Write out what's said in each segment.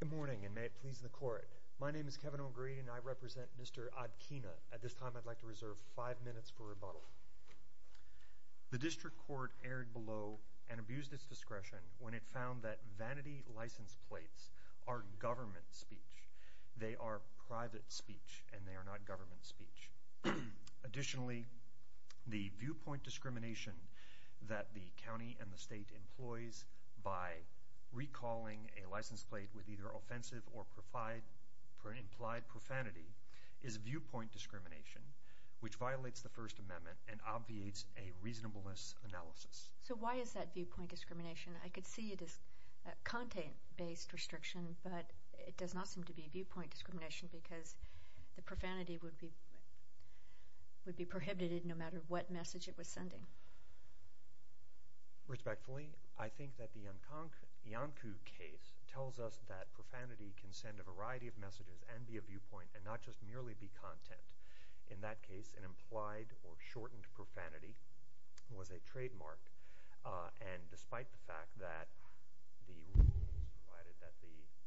Good morning and may it please the court. My name is Kevin O'Grady and I represent Mr. Odquina. At this time I'd like to reserve five minutes for rebuttal. The district court erred below and abused its discretion when it found that vanity license plates are government speech. They are private speech and they are not government speech. Additionally the viewpoint discrimination that the county and the state employs by recalling a license plate with either offensive or implied profanity is viewpoint discrimination which violates the First Amendment and obviates a reasonableness analysis. So why is that viewpoint discrimination? I could see it as content based restriction but it does not seem to be viewpoint discrimination because the profanity would be prohibited no matter what message it was sending. Respectfully I think that the Yonk'un case tells us that profanity can send a variety of messages and be a viewpoint and not just merely be content. In that case an implied or shortened profanity was a trademark and despite the fact that the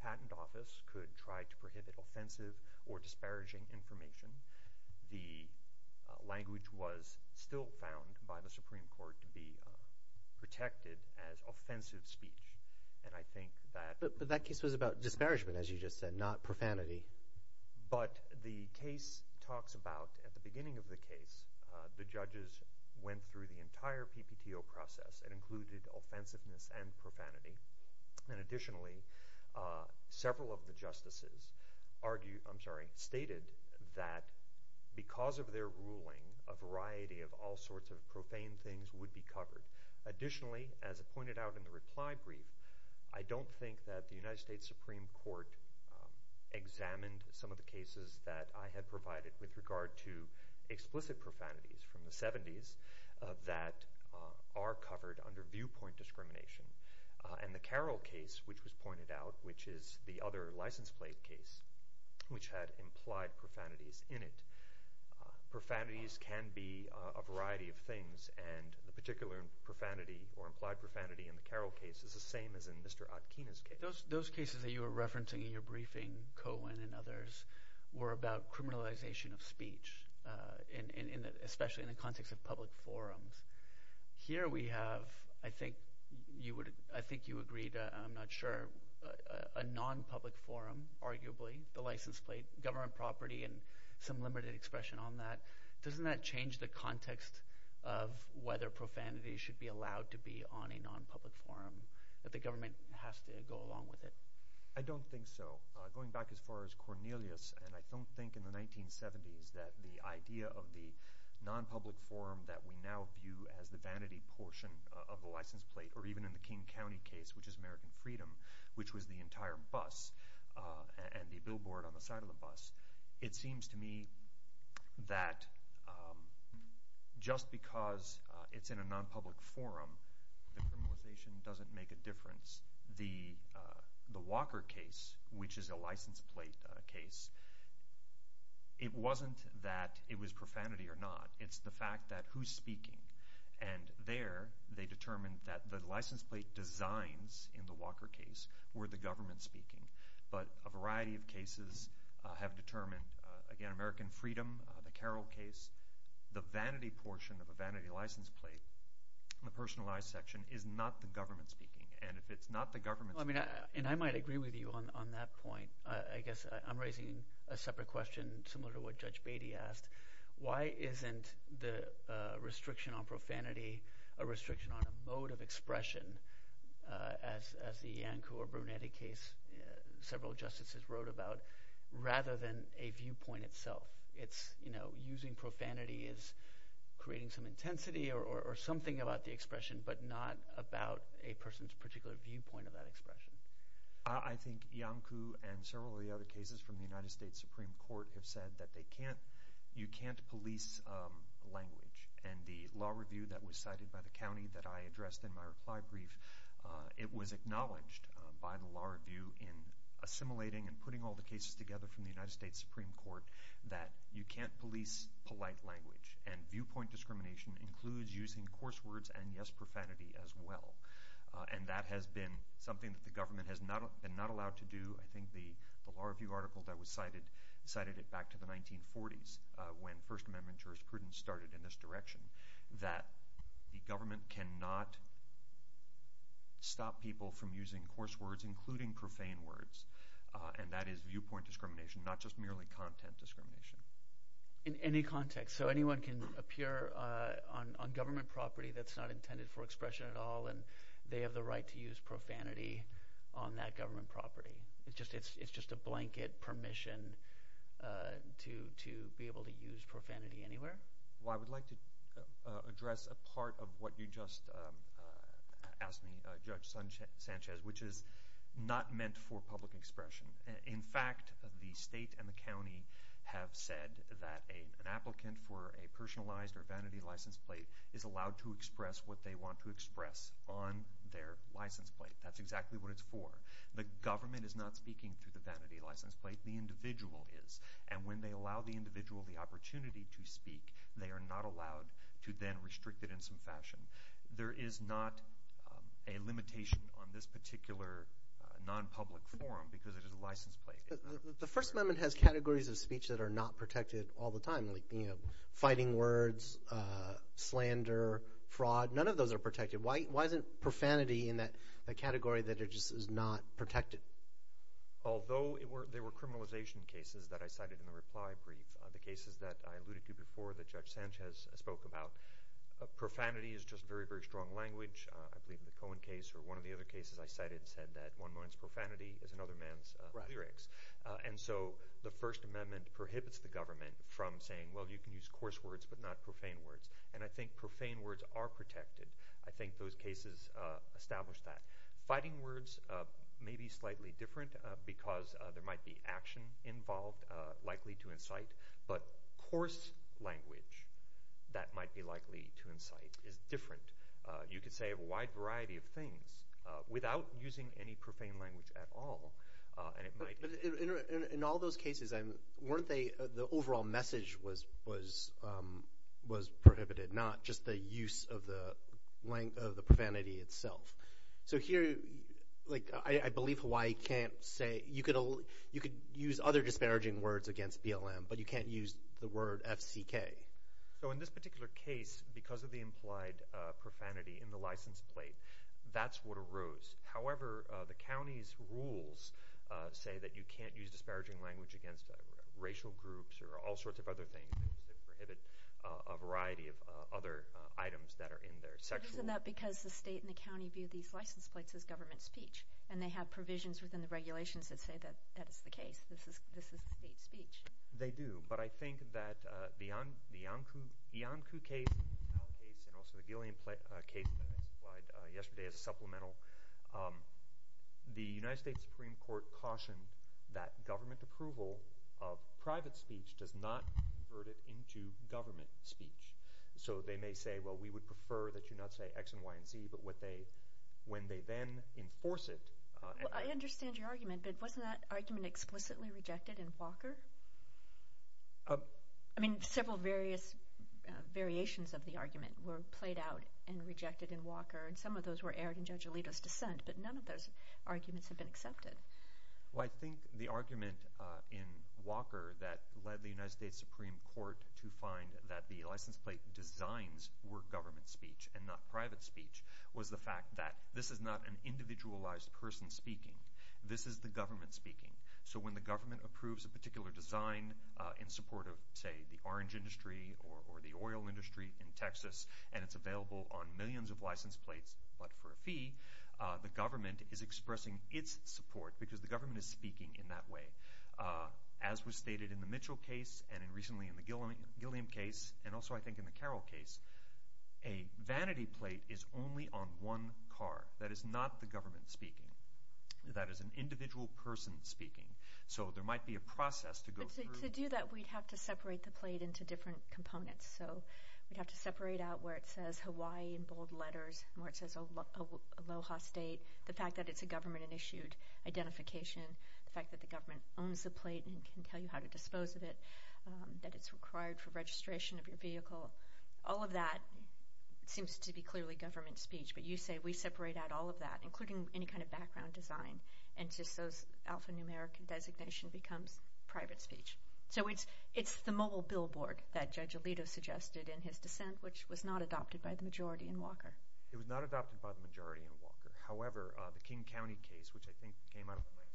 patent office could try to prohibit offensive or disparaging information the language was still found by the Supreme Court to be protected as offensive speech and I think that... But that case was about disparagement as you just said not profanity. But the case talks about at the beginning of the case the judges went through the entire PPTO process and included offensiveness and profanity and additionally several of the justices argued, I'm sorry, stated that because of their ruling a variety of all sorts of profane things would be covered. Additionally as I pointed out in the reply brief I don't think that the United States Supreme Court examined some of the cases that I had provided with regard to explicit profanities from the 70s that are covered under viewpoint discrimination and the Carroll case which was pointed out which is the other license plate case which had implied profanities in it. Profanities can be a variety of things and the particular profanity or implied profanity in the Carroll case is the same as in Mr. Atkina's case. Those cases that you were referencing in your briefing, Cohen and others, were about criminalization of I think you agreed, I'm not sure, a non-public forum arguably, the license plate, government property and some limited expression on that. Doesn't that change the context of whether profanity should be allowed to be on a non-public forum that the government has to go along with it? I don't think so. Going back as far as Cornelius and I don't think in the 1970s that the idea of the non-public forum that we now view as the vanity portion of the license plate or even in the King County case which is American Freedom which was the entire bus and the billboard on the side of the bus, it seems to me that just because it's in a non-public forum the criminalization doesn't make a difference. The Walker case which is a license plate case, it wasn't that it was profanity or not. It's the fact that who's speaking and there they determined that the license plate designs in the Walker case were the government speaking but a variety of cases have determined, again American Freedom, the Carroll case, the vanity portion of a vanity license plate, the personalized section, is not the government speaking and if it's not the government... I mean and I might agree with you on that point. I guess I'm raising a separate question similar to what Judge Beatty asked. Why isn't the restriction on profanity a restriction on a mode of expression as the Iancu or Brunetti case several justices wrote about rather than a viewpoint itself? It's, you know, using profanity is creating some intensity or something about the expression but not about a person's particular viewpoint of that expression. I think Iancu and several of the other Supreme Court have said that they can't, you can't police language and the law review that was cited by the county that I addressed in my reply brief, it was acknowledged by the law review in assimilating and putting all the cases together from the United States Supreme Court that you can't police polite language and viewpoint discrimination includes using coarse words and yes profanity as well and that has been something that the government has not been not allowed to do. I think the law review article that was cited cited it back to the 1940s when First Amendment jurisprudence started in this direction that the government cannot stop people from using coarse words including profane words and that is viewpoint discrimination not just merely content discrimination. In any context so anyone can appear on government property that's not intended for expression at all and they have the right to use profanity on that government property. It's just it's it's just a blanket permission to to be able to use profanity anywhere. Well I would like to address a part of what you just asked me, Judge Sanchez, which is not meant for public expression. In fact the state and the county have said that an applicant for a personalized or vanity license plate is allowed to express what they want to express on their license plate. That's exactly what it's for. The government is not speaking through the vanity license plate the individual is and when they allow the individual the opportunity to speak they are not allowed to then restrict it in some fashion. There is not a limitation on this particular non-public forum because it is a license plate. The First Amendment has categories of speech that are not protected all the time like you know fighting words, slander, fraud, none of those are protected. Why isn't profanity in that category that it just is not protected? Although there were criminalization cases that I cited in the reply brief, the cases that I alluded to before that Judge Sanchez spoke about, profanity is just very very strong language. I believe in the Cohen case or one of the other cases I cited said that one man's profanity is another man's lyrics and so the First Amendment prohibits the government from saying well you can use coarse words but not profane words and I think profane words are protected. I think those cases establish that. Fighting words may be slightly different because there might be action involved likely to incite but coarse language that might be likely to incite is different. You could say a wide variety of things without using any profane language at all. In all those cases you can use other disparaging words against BLM but you can't use the word FCK. So in this particular case because of the implied profanity in the license plate that's what arose. However the county's rules say that you can't use disparaging language against racial groups or all sorts of other things that prohibit a variety of other items that are in their sexual. Isn't that because the state and the county view these license plates as government speech and they have provisions within the regulations that say that that is the case. This is state speech. They do but I think that beyond the Yonkou case and also the Gillian case that I supplied yesterday as a supplemental, the United States Supreme Court cautioned that government approval of private speech does not convert it into government speech. So they may say well we would prefer that you not say X and Y and Z but what they when they then enforce it. I understand your argument but wasn't that argument explicitly rejected in Walker? I mean several various variations of the argument were played out and rejected in Walker and some of those were aired in Judge Alito's dissent but none of those arguments have been accepted. Well I think the argument in Walker that led the United States Supreme Court to find that the license plate designs were government speech and not private speech was the fact that this is not an individualized person speaking. This is the government speaking. So when the government approves a particular design in support of say the orange industry or the oil industry in Texas and it's available on millions of license plates but for a fee, the government is expressing its support because the recently in the Gilliam case and also I think in the Carroll case, a vanity plate is only on one car. That is not the government speaking. That is an individual person speaking. So there might be a process to go through. To do that we'd have to separate the plate into different components. So we'd have to separate out where it says Hawaii in bold letters, where it says Aloha State, the fact that it's a government and issued identification, the fact that the it's required for registration of your vehicle. All of that seems to be clearly government speech but you say we separate out all of that including any kind of background design and just those alphanumeric and designation becomes private speech. So it's it's the mobile billboard that Judge Alito suggested in his dissent which was not adopted by the majority in Walker. It was not adopted by the majority in Walker. However, the King County case which I think came out of the bus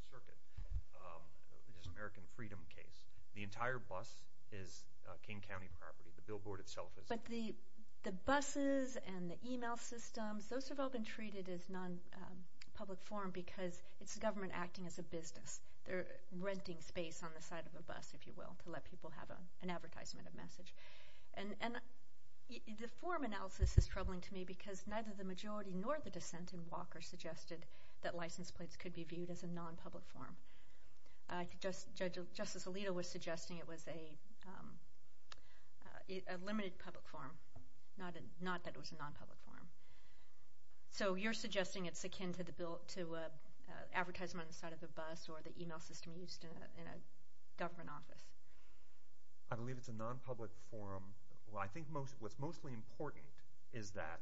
is King County property. The billboard itself is. But the the buses and the email systems, those have all been treated as non-public form because it's the government acting as a business. They're renting space on the side of a bus, if you will, to let people have an advertisement, a message. And and the form analysis is troubling to me because neither the majority nor the dissent in Walker suggested that license plates could be viewed as a non-public form. Justice Alito was suggesting it was a limited public form, not that it was a non-public form. So you're suggesting it's akin to the bill to advertise on the side of the bus or the email system used in a government office. I believe it's a non-public form. Well I think most what's mostly important is that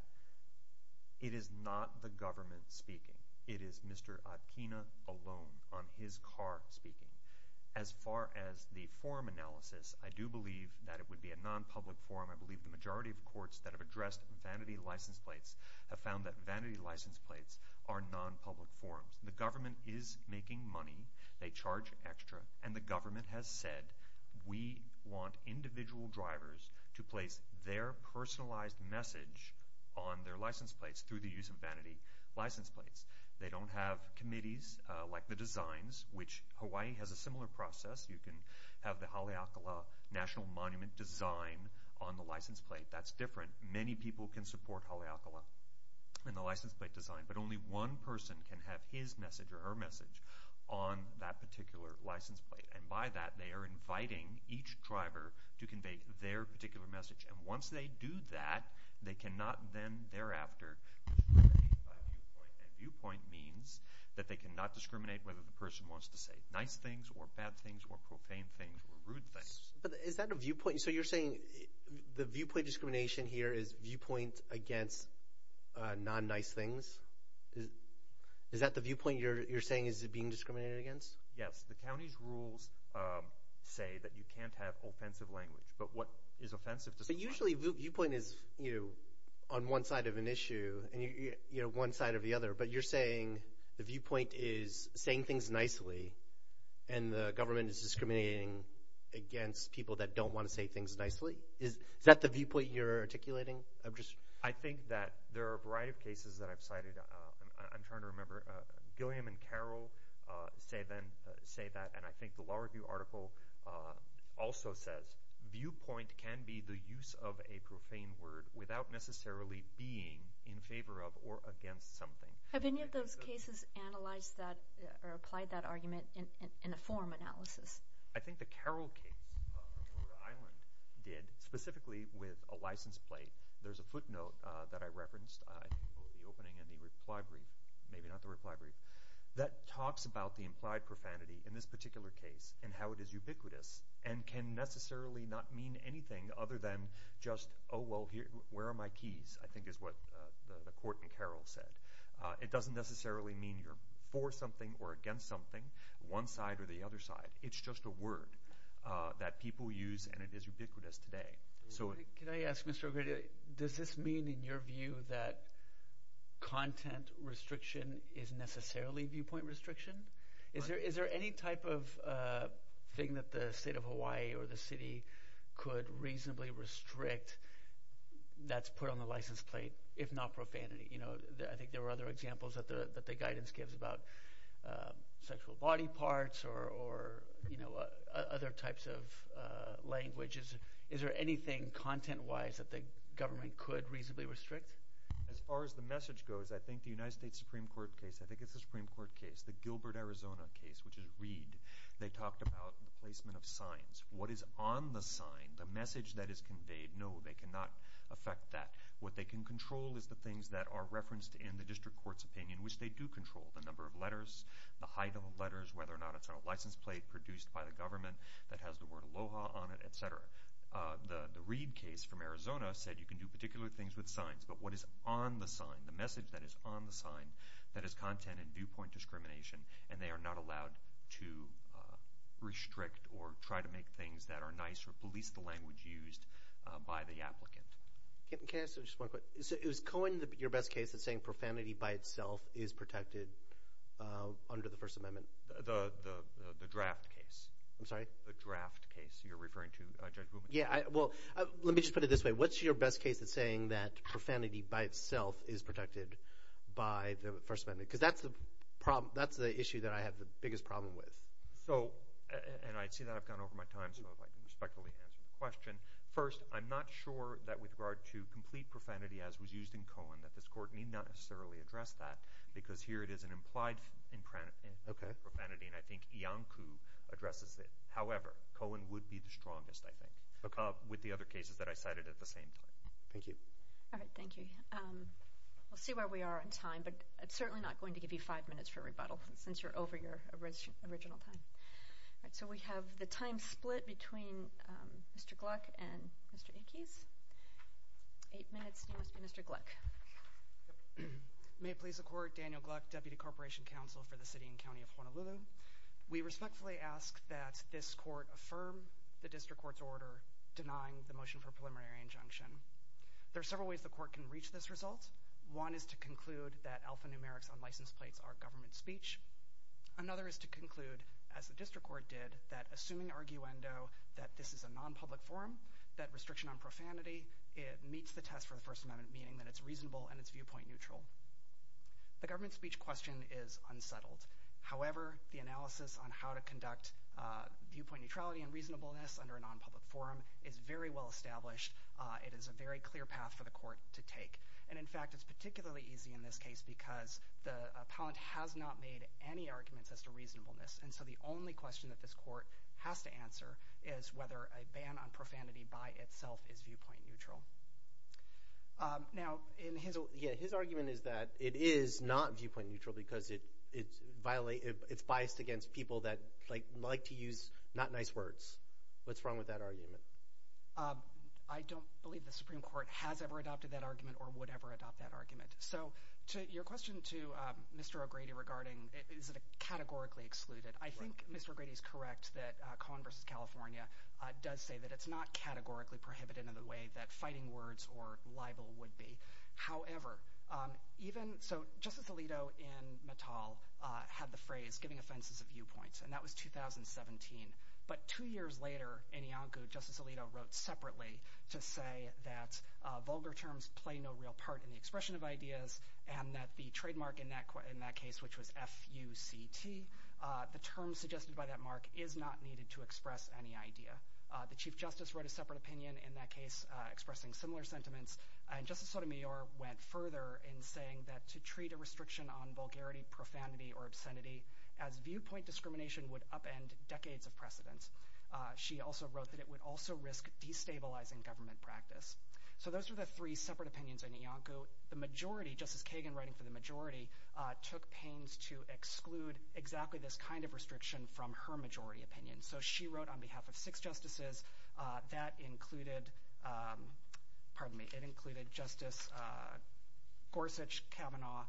it is not the government speaking. It is Mr. Atkina alone on his car speaking. As far as the form analysis, I do believe that it would be a non-public form. I believe the majority of courts that have addressed vanity license plates have found that vanity license plates are non-public forms. The government is making money. They charge extra. And the government has said we want individual drivers to place their personalized message on their license plates through the use of vanity license plates. They don't have committees like the designs, which Hawaii has a similar process. You can have the Haleakala National Monument design on the license plate. That's different. Many people can support Haleakala in the license plate design, but only one person can have his message or her message on that particular license plate. And by that, they are inviting each driver to convey their particular message. And once they do that, they cannot then thereafter discriminate by viewpoint. And viewpoint means that they cannot discriminate whether the person wants to say nice things or bad things or profane things or rude things. But is that a viewpoint? So you're saying the viewpoint discrimination here is viewpoint against non-nice things? Is that the viewpoint you're saying is being discriminated against? Yes. The county's rules say that you can't have offensive language. But what is offensive Usually viewpoint is on one side of an issue and one side of the other, but you're saying the viewpoint is saying things nicely and the government is discriminating against people that don't want to say things nicely. Is that the viewpoint you're articulating? I think that there are a variety of cases that I've cited. I'm trying to remember. Gilliam and Carroll say that, and I think the Law Review article also says, viewpoint can be the use of a profane word without necessarily being in favor of or against something. Have any of those cases analyzed that or applied that argument in a form analysis? I think the Carroll case did, specifically with a license plate. There's a footnote that I referenced opening in the reply brief, maybe not the reply brief, that talks about the and can necessarily not mean anything other than just, oh well, where are my keys, I think is what the court in Carroll said. It doesn't necessarily mean you're for something or against something, one side or the other side. It's just a word that people use and it is ubiquitous today. So can I ask Mr. O'Grady, does this mean in your view that content restriction is necessarily viewpoint restriction? Is there any type of thing that the state of Hawaii or the city could reasonably restrict that's put on the license plate, if not profanity? I think there were other examples that the guidance gives about sexual body parts or other types of languages. Is there anything content-wise that the government could reasonably restrict? As far as the message goes, I think the United States Supreme Court case, I think it's the Supreme Court case, the Gilbert, Arizona case, which is Reed, they talked about the placement of signs. What is on the sign, the message that is conveyed, no, they cannot affect that. What they can control is the things that are referenced in the district court's opinion, which they do control, the number of letters, the height of letters, whether or not it's on a license plate produced by the government that has the word Aloha on it, etc. The Reed case from Arizona said you can do particular things with signs, but what is on the sign, the message that is on the sign, that is content and viewpoint discrimination, and they are not allowed to restrict or try to make things that are nice or police the language used by the applicant. Can I ask just one quick, is Cohen your best case that's saying profanity by itself is protected under the First Amendment? The draft case. I'm sorry? The draft case you're referring to. Yeah, well, let me just put it this way. What's your best case that's saying profanity by itself is protected by the First Amendment? Because that's the problem, that's the issue that I have the biggest problem with. So, and I see that I've gone over my time, so if I can respectfully answer the question. First, I'm not sure that with regard to complete profanity as was used in Cohen, that this court need not necessarily address that, because here it is an implied profanity, and I think Iancu addresses it. However, Cohen would be the strongest, I think, with the other cases that I cited at the same time. Thank you. All right, thank you. We'll see where we are in time, but it's certainly not going to give you five minutes for rebuttal, since you're over your original time. All right, so we have the time split between Mr. Gluck and Mr. Ickes. Eight minutes, you must be Mr. Gluck. May it please the Court, Daniel Gluck, Deputy Corporation Counsel for the City and County of Honolulu. We respectfully ask that this court affirm the District Court's order denying the motion for preliminary injunction. There are several ways the court can reach this result. One is to conclude that alphanumerics on license plates are government speech. Another is to conclude, as the District Court did, that assuming arguendo that this is a non-public forum, that restriction on profanity, it meets the test for the First Amendment, meaning that it's reasonable and it's viewpoint neutral. The government speech question is unsettled. However, the analysis on how to conduct viewpoint neutrality and non-public forum is very well established. It is a very clear path for the court to take, and in fact, it's particularly easy in this case because the appellant has not made any arguments as to reasonableness, and so the only question that this court has to answer is whether a ban on profanity by itself is viewpoint neutral. Now, his argument is that it is not viewpoint neutral because it's biased against people that like to use not nice words. What's wrong with that argument? I don't believe the Supreme Court has ever adopted that argument or would ever adopt that argument. So, to your question to Mr. O'Grady regarding, is it categorically excluded? I think Mr. O'Grady is correct that Cohen v. California does say that it's not categorically prohibited in the way that fighting words or libel would be. However, even, so Justice Alito in Mattel had the phrase giving offenses of viewpoints, and that was 2017, but two years later in Iancu, Justice Alito wrote separately to say that vulgar terms play no real part in the expression of ideas and that the trademark in that case, which was F-U-C-T, the term suggested by that mark is not needed to express any idea. The Chief Justice wrote a separate opinion in that case expressing similar sentiments, and Justice Sotomayor went further in saying that to treat a restriction on vulgarity, profanity, or would upend decades of precedence. She also wrote that it would also risk destabilizing government practice. So, those are the three separate opinions in Iancu. The majority, Justice Kagan writing for the majority, took pains to exclude exactly this kind of restriction from her majority opinion. So, she wrote on behalf of six justices that included, pardon me, it included Justice Gorsuch, Kavanaugh,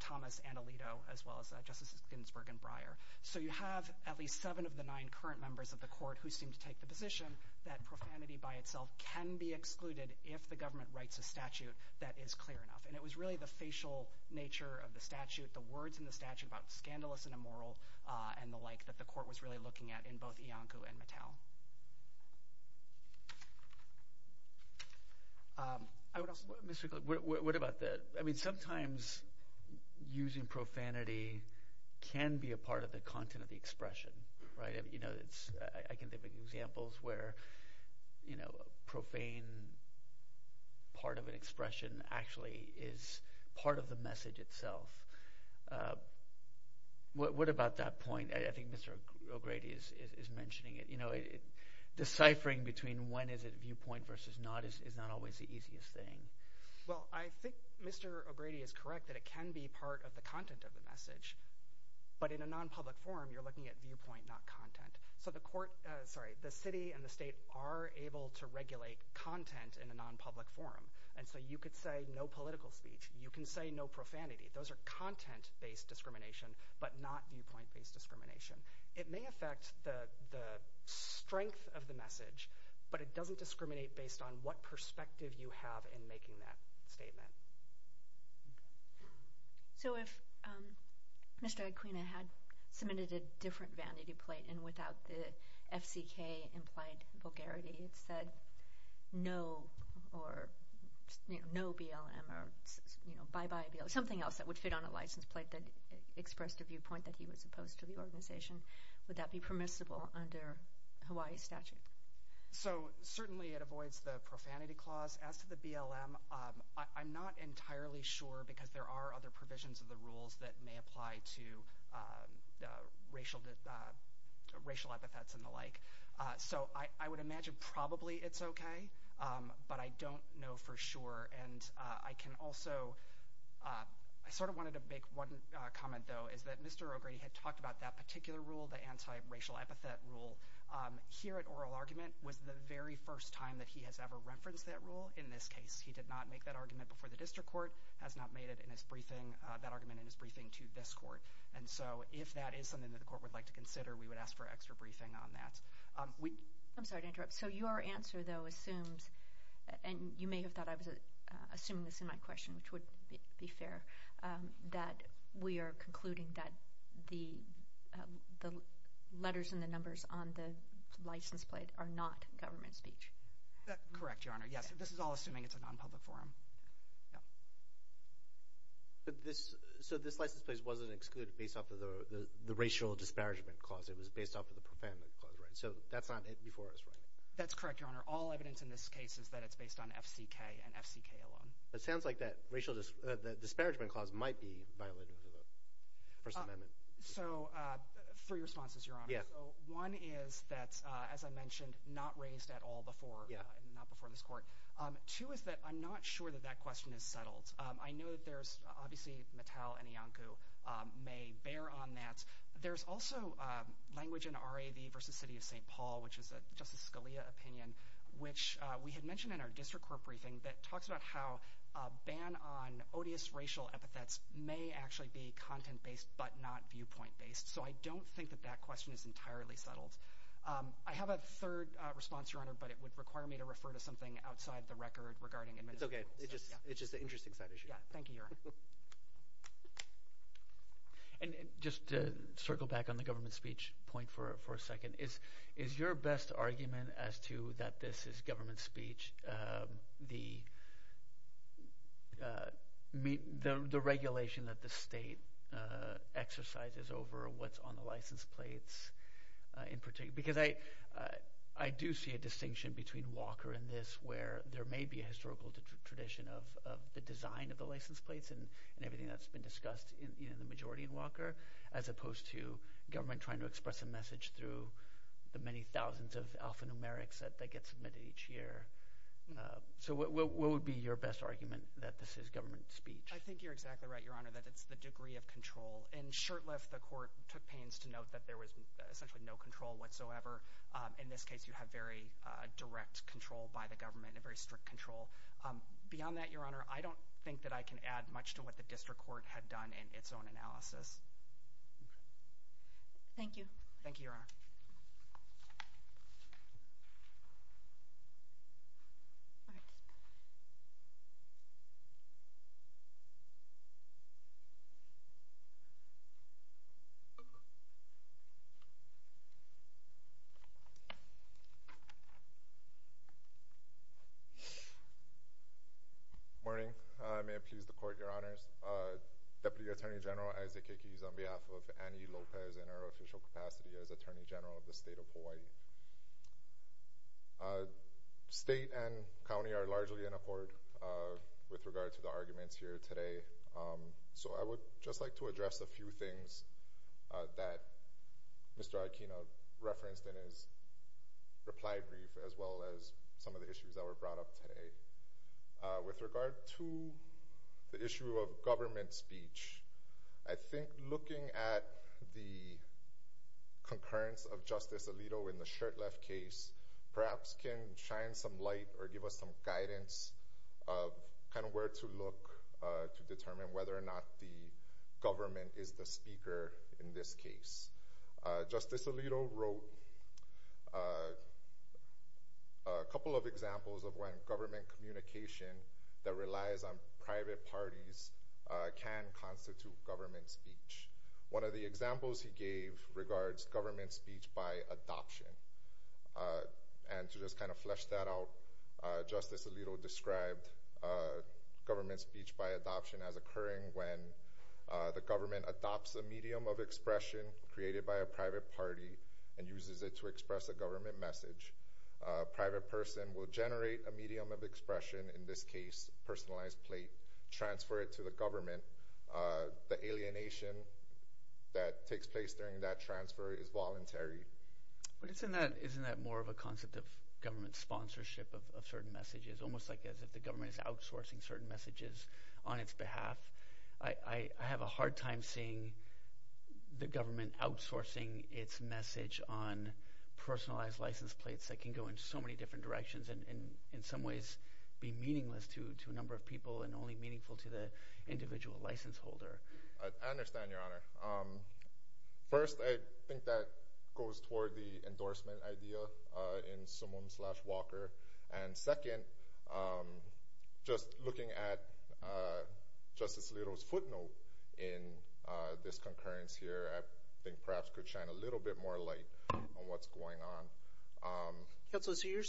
Thomas, and Alito, as well as Justices Ginsburg and Breyer. So, you have at least seven of the nine current members of the court who seem to take the position that profanity by itself can be excluded if the government writes a statute that is clear enough. And it was really the facial nature of the statute, the words in the statute about scandalous and immoral, and the like, that the court was really looking at in both Iancu and Mattel. I would also... Mr. Glick, what about the... I mean, sometimes using profanity can be a part of the content of the expression, right? You know, it's... I can think of examples where, you know, profane part of an expression actually is part of the message itself. What about that point? I think Mr. O'Grady is mentioning it. You know, deciphering between when is it viewpoint versus not is not always the easiest thing. Well, I think Mr. O'Grady is correct that it can be part of the content of the message, but in a non-public forum, you're looking at viewpoint, not content. So, the court... sorry, the city and the state are able to regulate content in a non-public forum. And so, you could say no political speech. You can say no profanity. Those are content-based discrimination, but not viewpoint-based discrimination. It may affect the strength of the message, but it doesn't discriminate based on what perspective you have in making that statement. So, if Mr. Aquino had submitted a different vanity plate and without the FCK implied vulgarity, it said no or no BLM or, you know, bye-bye BLM, something else that would fit on a license plate that expressed a viewpoint that he was opposed to the organization, would that be permissible under Hawaii statute? So, certainly, it avoids the profanity clause. As to the BLM, I'm not entirely sure because there are other provisions of the rules that may apply to racial epithets and the like. So, I would imagine probably it's okay, but I don't know for sure. And I can also... I sort of wanted to make one comment, though, is that Mr. O'Grady had talked about that particular rule, the anti-racial epithet rule. Here at Oral Argument was the very first time that he has ever referenced that rule. In this case, he did not make that argument before the district court, has not made it in his briefing, that argument in his briefing to this court. And so, if that is something that the court would like to consider, we would ask for extra briefing on that. I'm sorry to interrupt. So, your answer, though, assumes, and you may have thought I was assuming this in my question, which would be fair, that we are concluding that the letters and the numbers on the license plate are not government speech. Correct, Your Honor. Yes, this is all assuming it's a non-public forum. So, this license plate wasn't excluded based off of the racial disparagement clause. It was based off of the profanity clause, right? So, that's not it before us, right? That's correct, Your Honor. All evidence in this case is that it's based on FCK and FCK alone. It sounds like that racial disparagement clause might be violated. So, three responses, Your Honor. So, one is that, as I mentioned, not raised at all before, not before this court. Two is that I'm not sure that that question is settled. I know that there's obviously Mattel and Iancu may bear on that. There's also language in R.A.V. versus City of St. Paul, which is a Justice Scalia opinion, which we had mentioned in our district court briefing that talks about how a ban on odious racial epithets may actually be content-based but not viewpoint-based. So, I don't think that that question is entirely settled. I have a third response, Your Honor, but it would require me to refer to something outside the record regarding administrative... It's okay. It's just, it's just an interesting side issue. Yeah, thank you, Your Honor. And just to circle back on the government speech point for a second. Is, is your best argument as to that this is government speech, the, the regulation that the state exercises over what's on the license plates in particular? Because I, I do see a distinction between Walker and this where there may be a historical tradition of the design of the license plates and everything that's been discussed in, you know, the majority in Walker, as opposed to government trying to express a message through the many thousands of alphanumerics that get submitted each year. So, what would be your best argument that this is government speech? I think you're exactly right, Your Honor, that it's the degree of control. In Shurtleff, the court took pains to note that there was essentially no control whatsoever. In this case, you have very direct control by the government, a very strict control. Beyond that, Your Honor, I don't think that I can add much to what the district court had done in its own analysis. Thank you. Thank you, Your Honor. Morning. May it please the court, Your Honors. Deputy Attorney General Isaac Aikis on behalf of Annie Lopez in her official capacity as Attorney General of the state of Hawaii. State and county are largely in accord with regard to the arguments here today, so I would just like to address a few things that Mr. Aikina referenced in his reply brief, as well as some of the issues that were brought up today. With regard to the issue of government speech, I think looking at the concurrence of Justice Alito in the Shurtleff case perhaps can shine some light or give us some guidance of kind of where to look to determine whether or not the government is the speaker in this case. Justice Alito wrote a couple of examples of when government communication that relies on speech. One of the examples he gave regards government speech by adoption. And to just kind of flesh that out, Justice Alito described government speech by adoption as occurring when the government adopts a medium of expression created by a private party and uses it to express a government message. A private person will generate a medium of expression, in this case personalized plate, transfer it to the government. The alienation that takes place during that transfer is voluntary. But isn't that more of a concept of government sponsorship of certain messages, almost like as if the government is outsourcing certain messages on its behalf? I have a hard time seeing the government outsourcing its message on personalized license plates that can go in so many different directions and in some ways be to a number of people and only meaningful to the individual license holder. I understand, Your Honor. First, I think that goes toward the endorsement idea in Simone Slash Walker. And second, just looking at Justice Alito's footnote in this concurrence here, I think perhaps could shine a little bit more light on what's going on. Counselor, so you're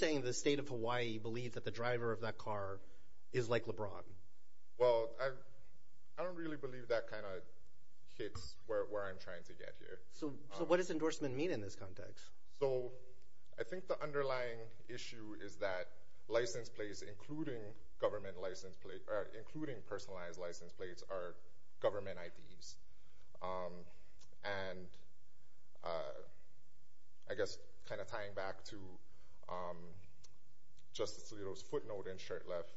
saying the state of Hawaii believes that the driver of that car is like LeBron? Well, I don't really believe that kind of hits where I'm trying to get here. So what does endorsement mean in this context? So I think the underlying issue is that license plates, including government license plates, including personalized license plates, are government IDs. And I guess kind of tying back to Justice Alito's footnote and shirt left,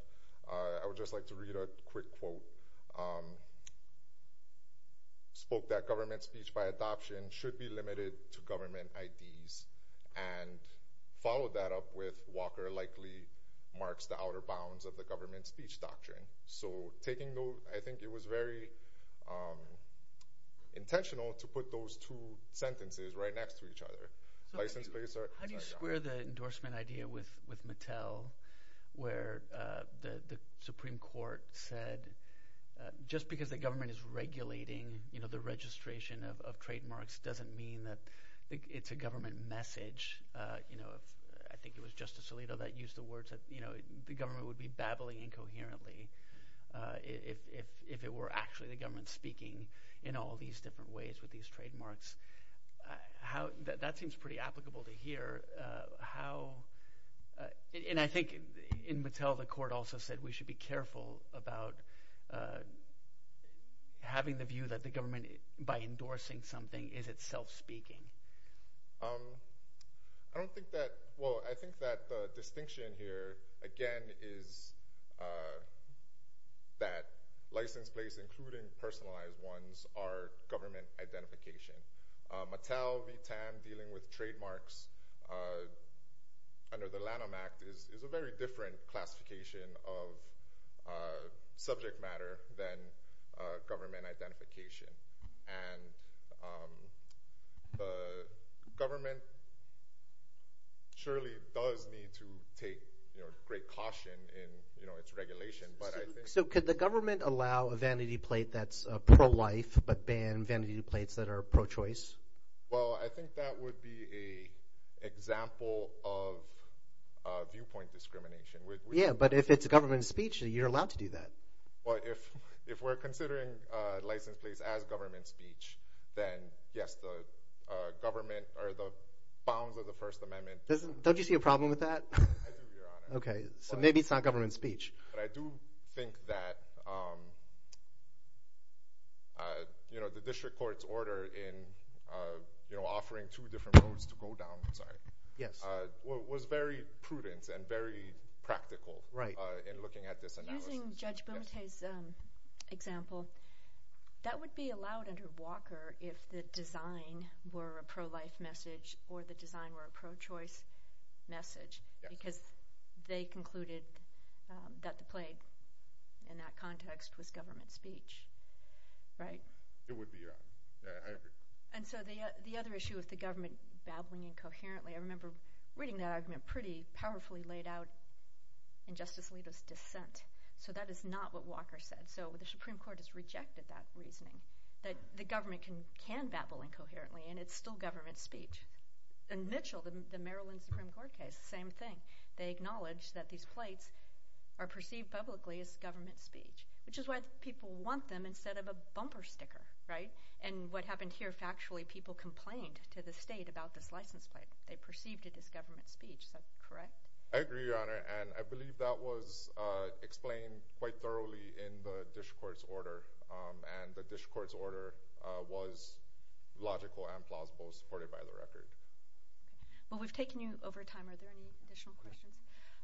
I would just like to read a quick quote. Spoke that government speech by adoption should be limited to government IDs and followed that up with Walker likely marks the outer bounds of the government speech doctrine. So taking those, I think it was very intentional to put those two sentences right next to each other. How do you square the just because the government is regulating, you know, the registration of trademarks doesn't mean that it's a government message. You know, I think it was Justice Alito that used the words that, you know, the government would be babbling incoherently if it were actually the government speaking in all these different ways with these trademarks. How that seems pretty applicable to here. How, and I think in Mattel the court also said we should be about having the view that the government, by endorsing something, is itself speaking. I don't think that, well I think that the distinction here again is that license plates, including personalized ones, are government identification. Mattel v. TAM dealing with trademarks under the Lanham Act is a very different classification of subject matter than government identification. And the government surely does need to take great caution in, you know, its regulation. So could the government allow a vanity plate that's pro-life but ban vanity plates that are pro-choice? Well I think that would be a viewpoint discrimination. Yeah, but if it's a government speech, you're allowed to do that. Well if we're considering license plates as government speech, then yes, the government or the bounds of the First Amendment. Don't you see a problem with that? Okay, so maybe it's not government speech. But I do think that, you know, the District Court's order in, you know, offering two different roads to very prudent and very practical in looking at this analysis. Using Judge Bumate's example, that would be allowed under Walker if the design were a pro-life message or the design were a pro-choice message, because they concluded that the plate in that context was government speech, right? It would be, yeah. And so the other issue with the government babbling incoherently, I think it's pretty powerfully laid out in Justice Alito's dissent. So that is not what Walker said. So the Supreme Court has rejected that reasoning, that the government can can babble incoherently and it's still government speech. And Mitchell, the Maryland Supreme Court case, same thing. They acknowledge that these plates are perceived publicly as government speech, which is why people want them instead of a bumper sticker, right? And what happened here factually, people complained to the state about this license plate. They perceived it as government speech. Is that correct? I agree, Your Honor, and I believe that was explained quite thoroughly in the Dish Court's order, and the Dish Court's order was logical and plausible, supported by the record. Well, we've taken you over time. Are there any additional questions?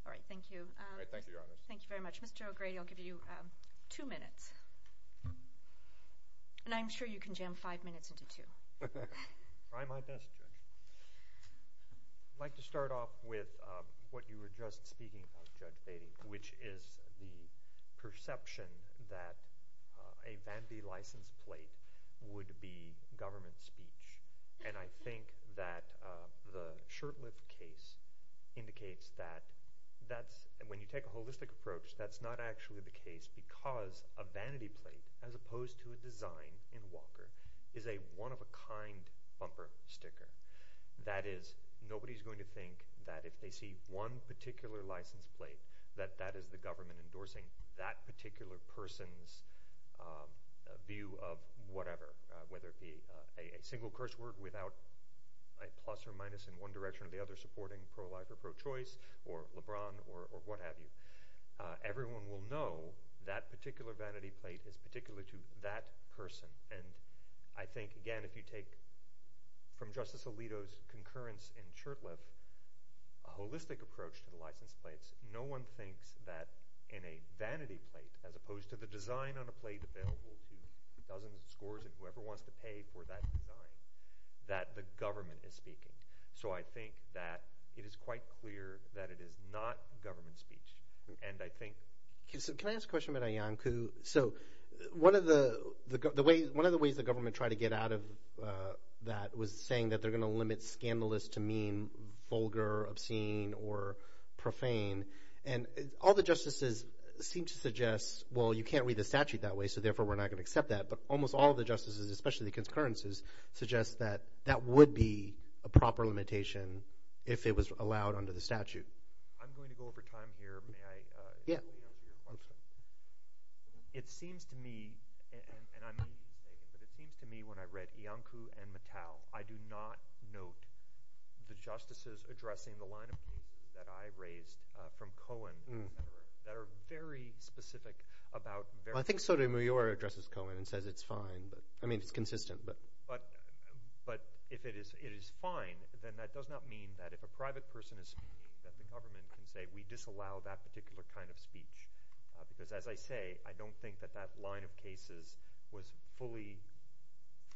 All right, thank you. Thank you, Your Honor. Thank you very much. Mr. O'Grady, I'll give you two minutes, and I'm sure you can jam five minutes into two. I try my best. I'd like to start off with what you were just speaking of, Judge Batey, which is the perception that a vanity license plate would be government speech. And I think that the Shurtleff case indicates that that's, when you take a holistic approach, that's not actually the case because a vanity plate, as opposed to a design in Walker, is a one-of-a-kind bumper sticker. That is, nobody's going to think that if they see one particular license plate, that that is the government endorsing that particular person's view of whatever, whether it be a single curse word without a plus or minus in one direction or the other supporting pro-life or pro-choice or LeBron or what have you. Everyone will know that a particular vanity plate is particular to that person. And I think, again, if you take from Justice Alito's concurrence in Shurtleff, a holistic approach to the license plates, no one thinks that in a vanity plate, as opposed to the design on a plate available to dozens of scores of whoever wants to pay for that design, that the government is speaking. So I think that it is quite clear that it is not government speech. Can I ask a question about Iyanku? So one of the ways the government tried to get out of that was saying that they're going to limit scandalous to mean vulgar, obscene, or profane. And all the justices seem to suggest, well, you can't read the statute that way, so therefore we're not going to accept that. But almost all of the justices, especially the concurrences, suggest that that would be a proper limitation if it was allowed under the statute. It seems to me, and I may be mistaken, but it seems to me when I read Iyanku and Mattel, I do not note the justices addressing the line of that I raised from Cohen that are very specific about... I think Sotomayor addresses Cohen and says it's fine. I mean, it's consistent. But if it is it is fine, then that does not mean that if a private person is speaking, that the justices allow that particular kind of speech. Because, as I say, I don't think that that line of cases was fully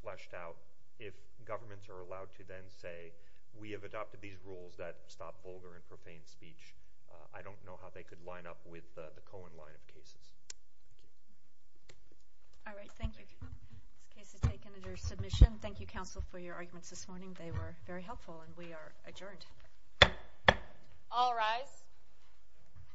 fleshed out. If governments are allowed to then say we have adopted these rules that stop vulgar and profane speech, I don't know how they could line up with the Cohen line of cases. All right, thank you. This case is taken under submission. Thank you, counsel, for your arguments this morning. They were very helpful, and we are adjourned.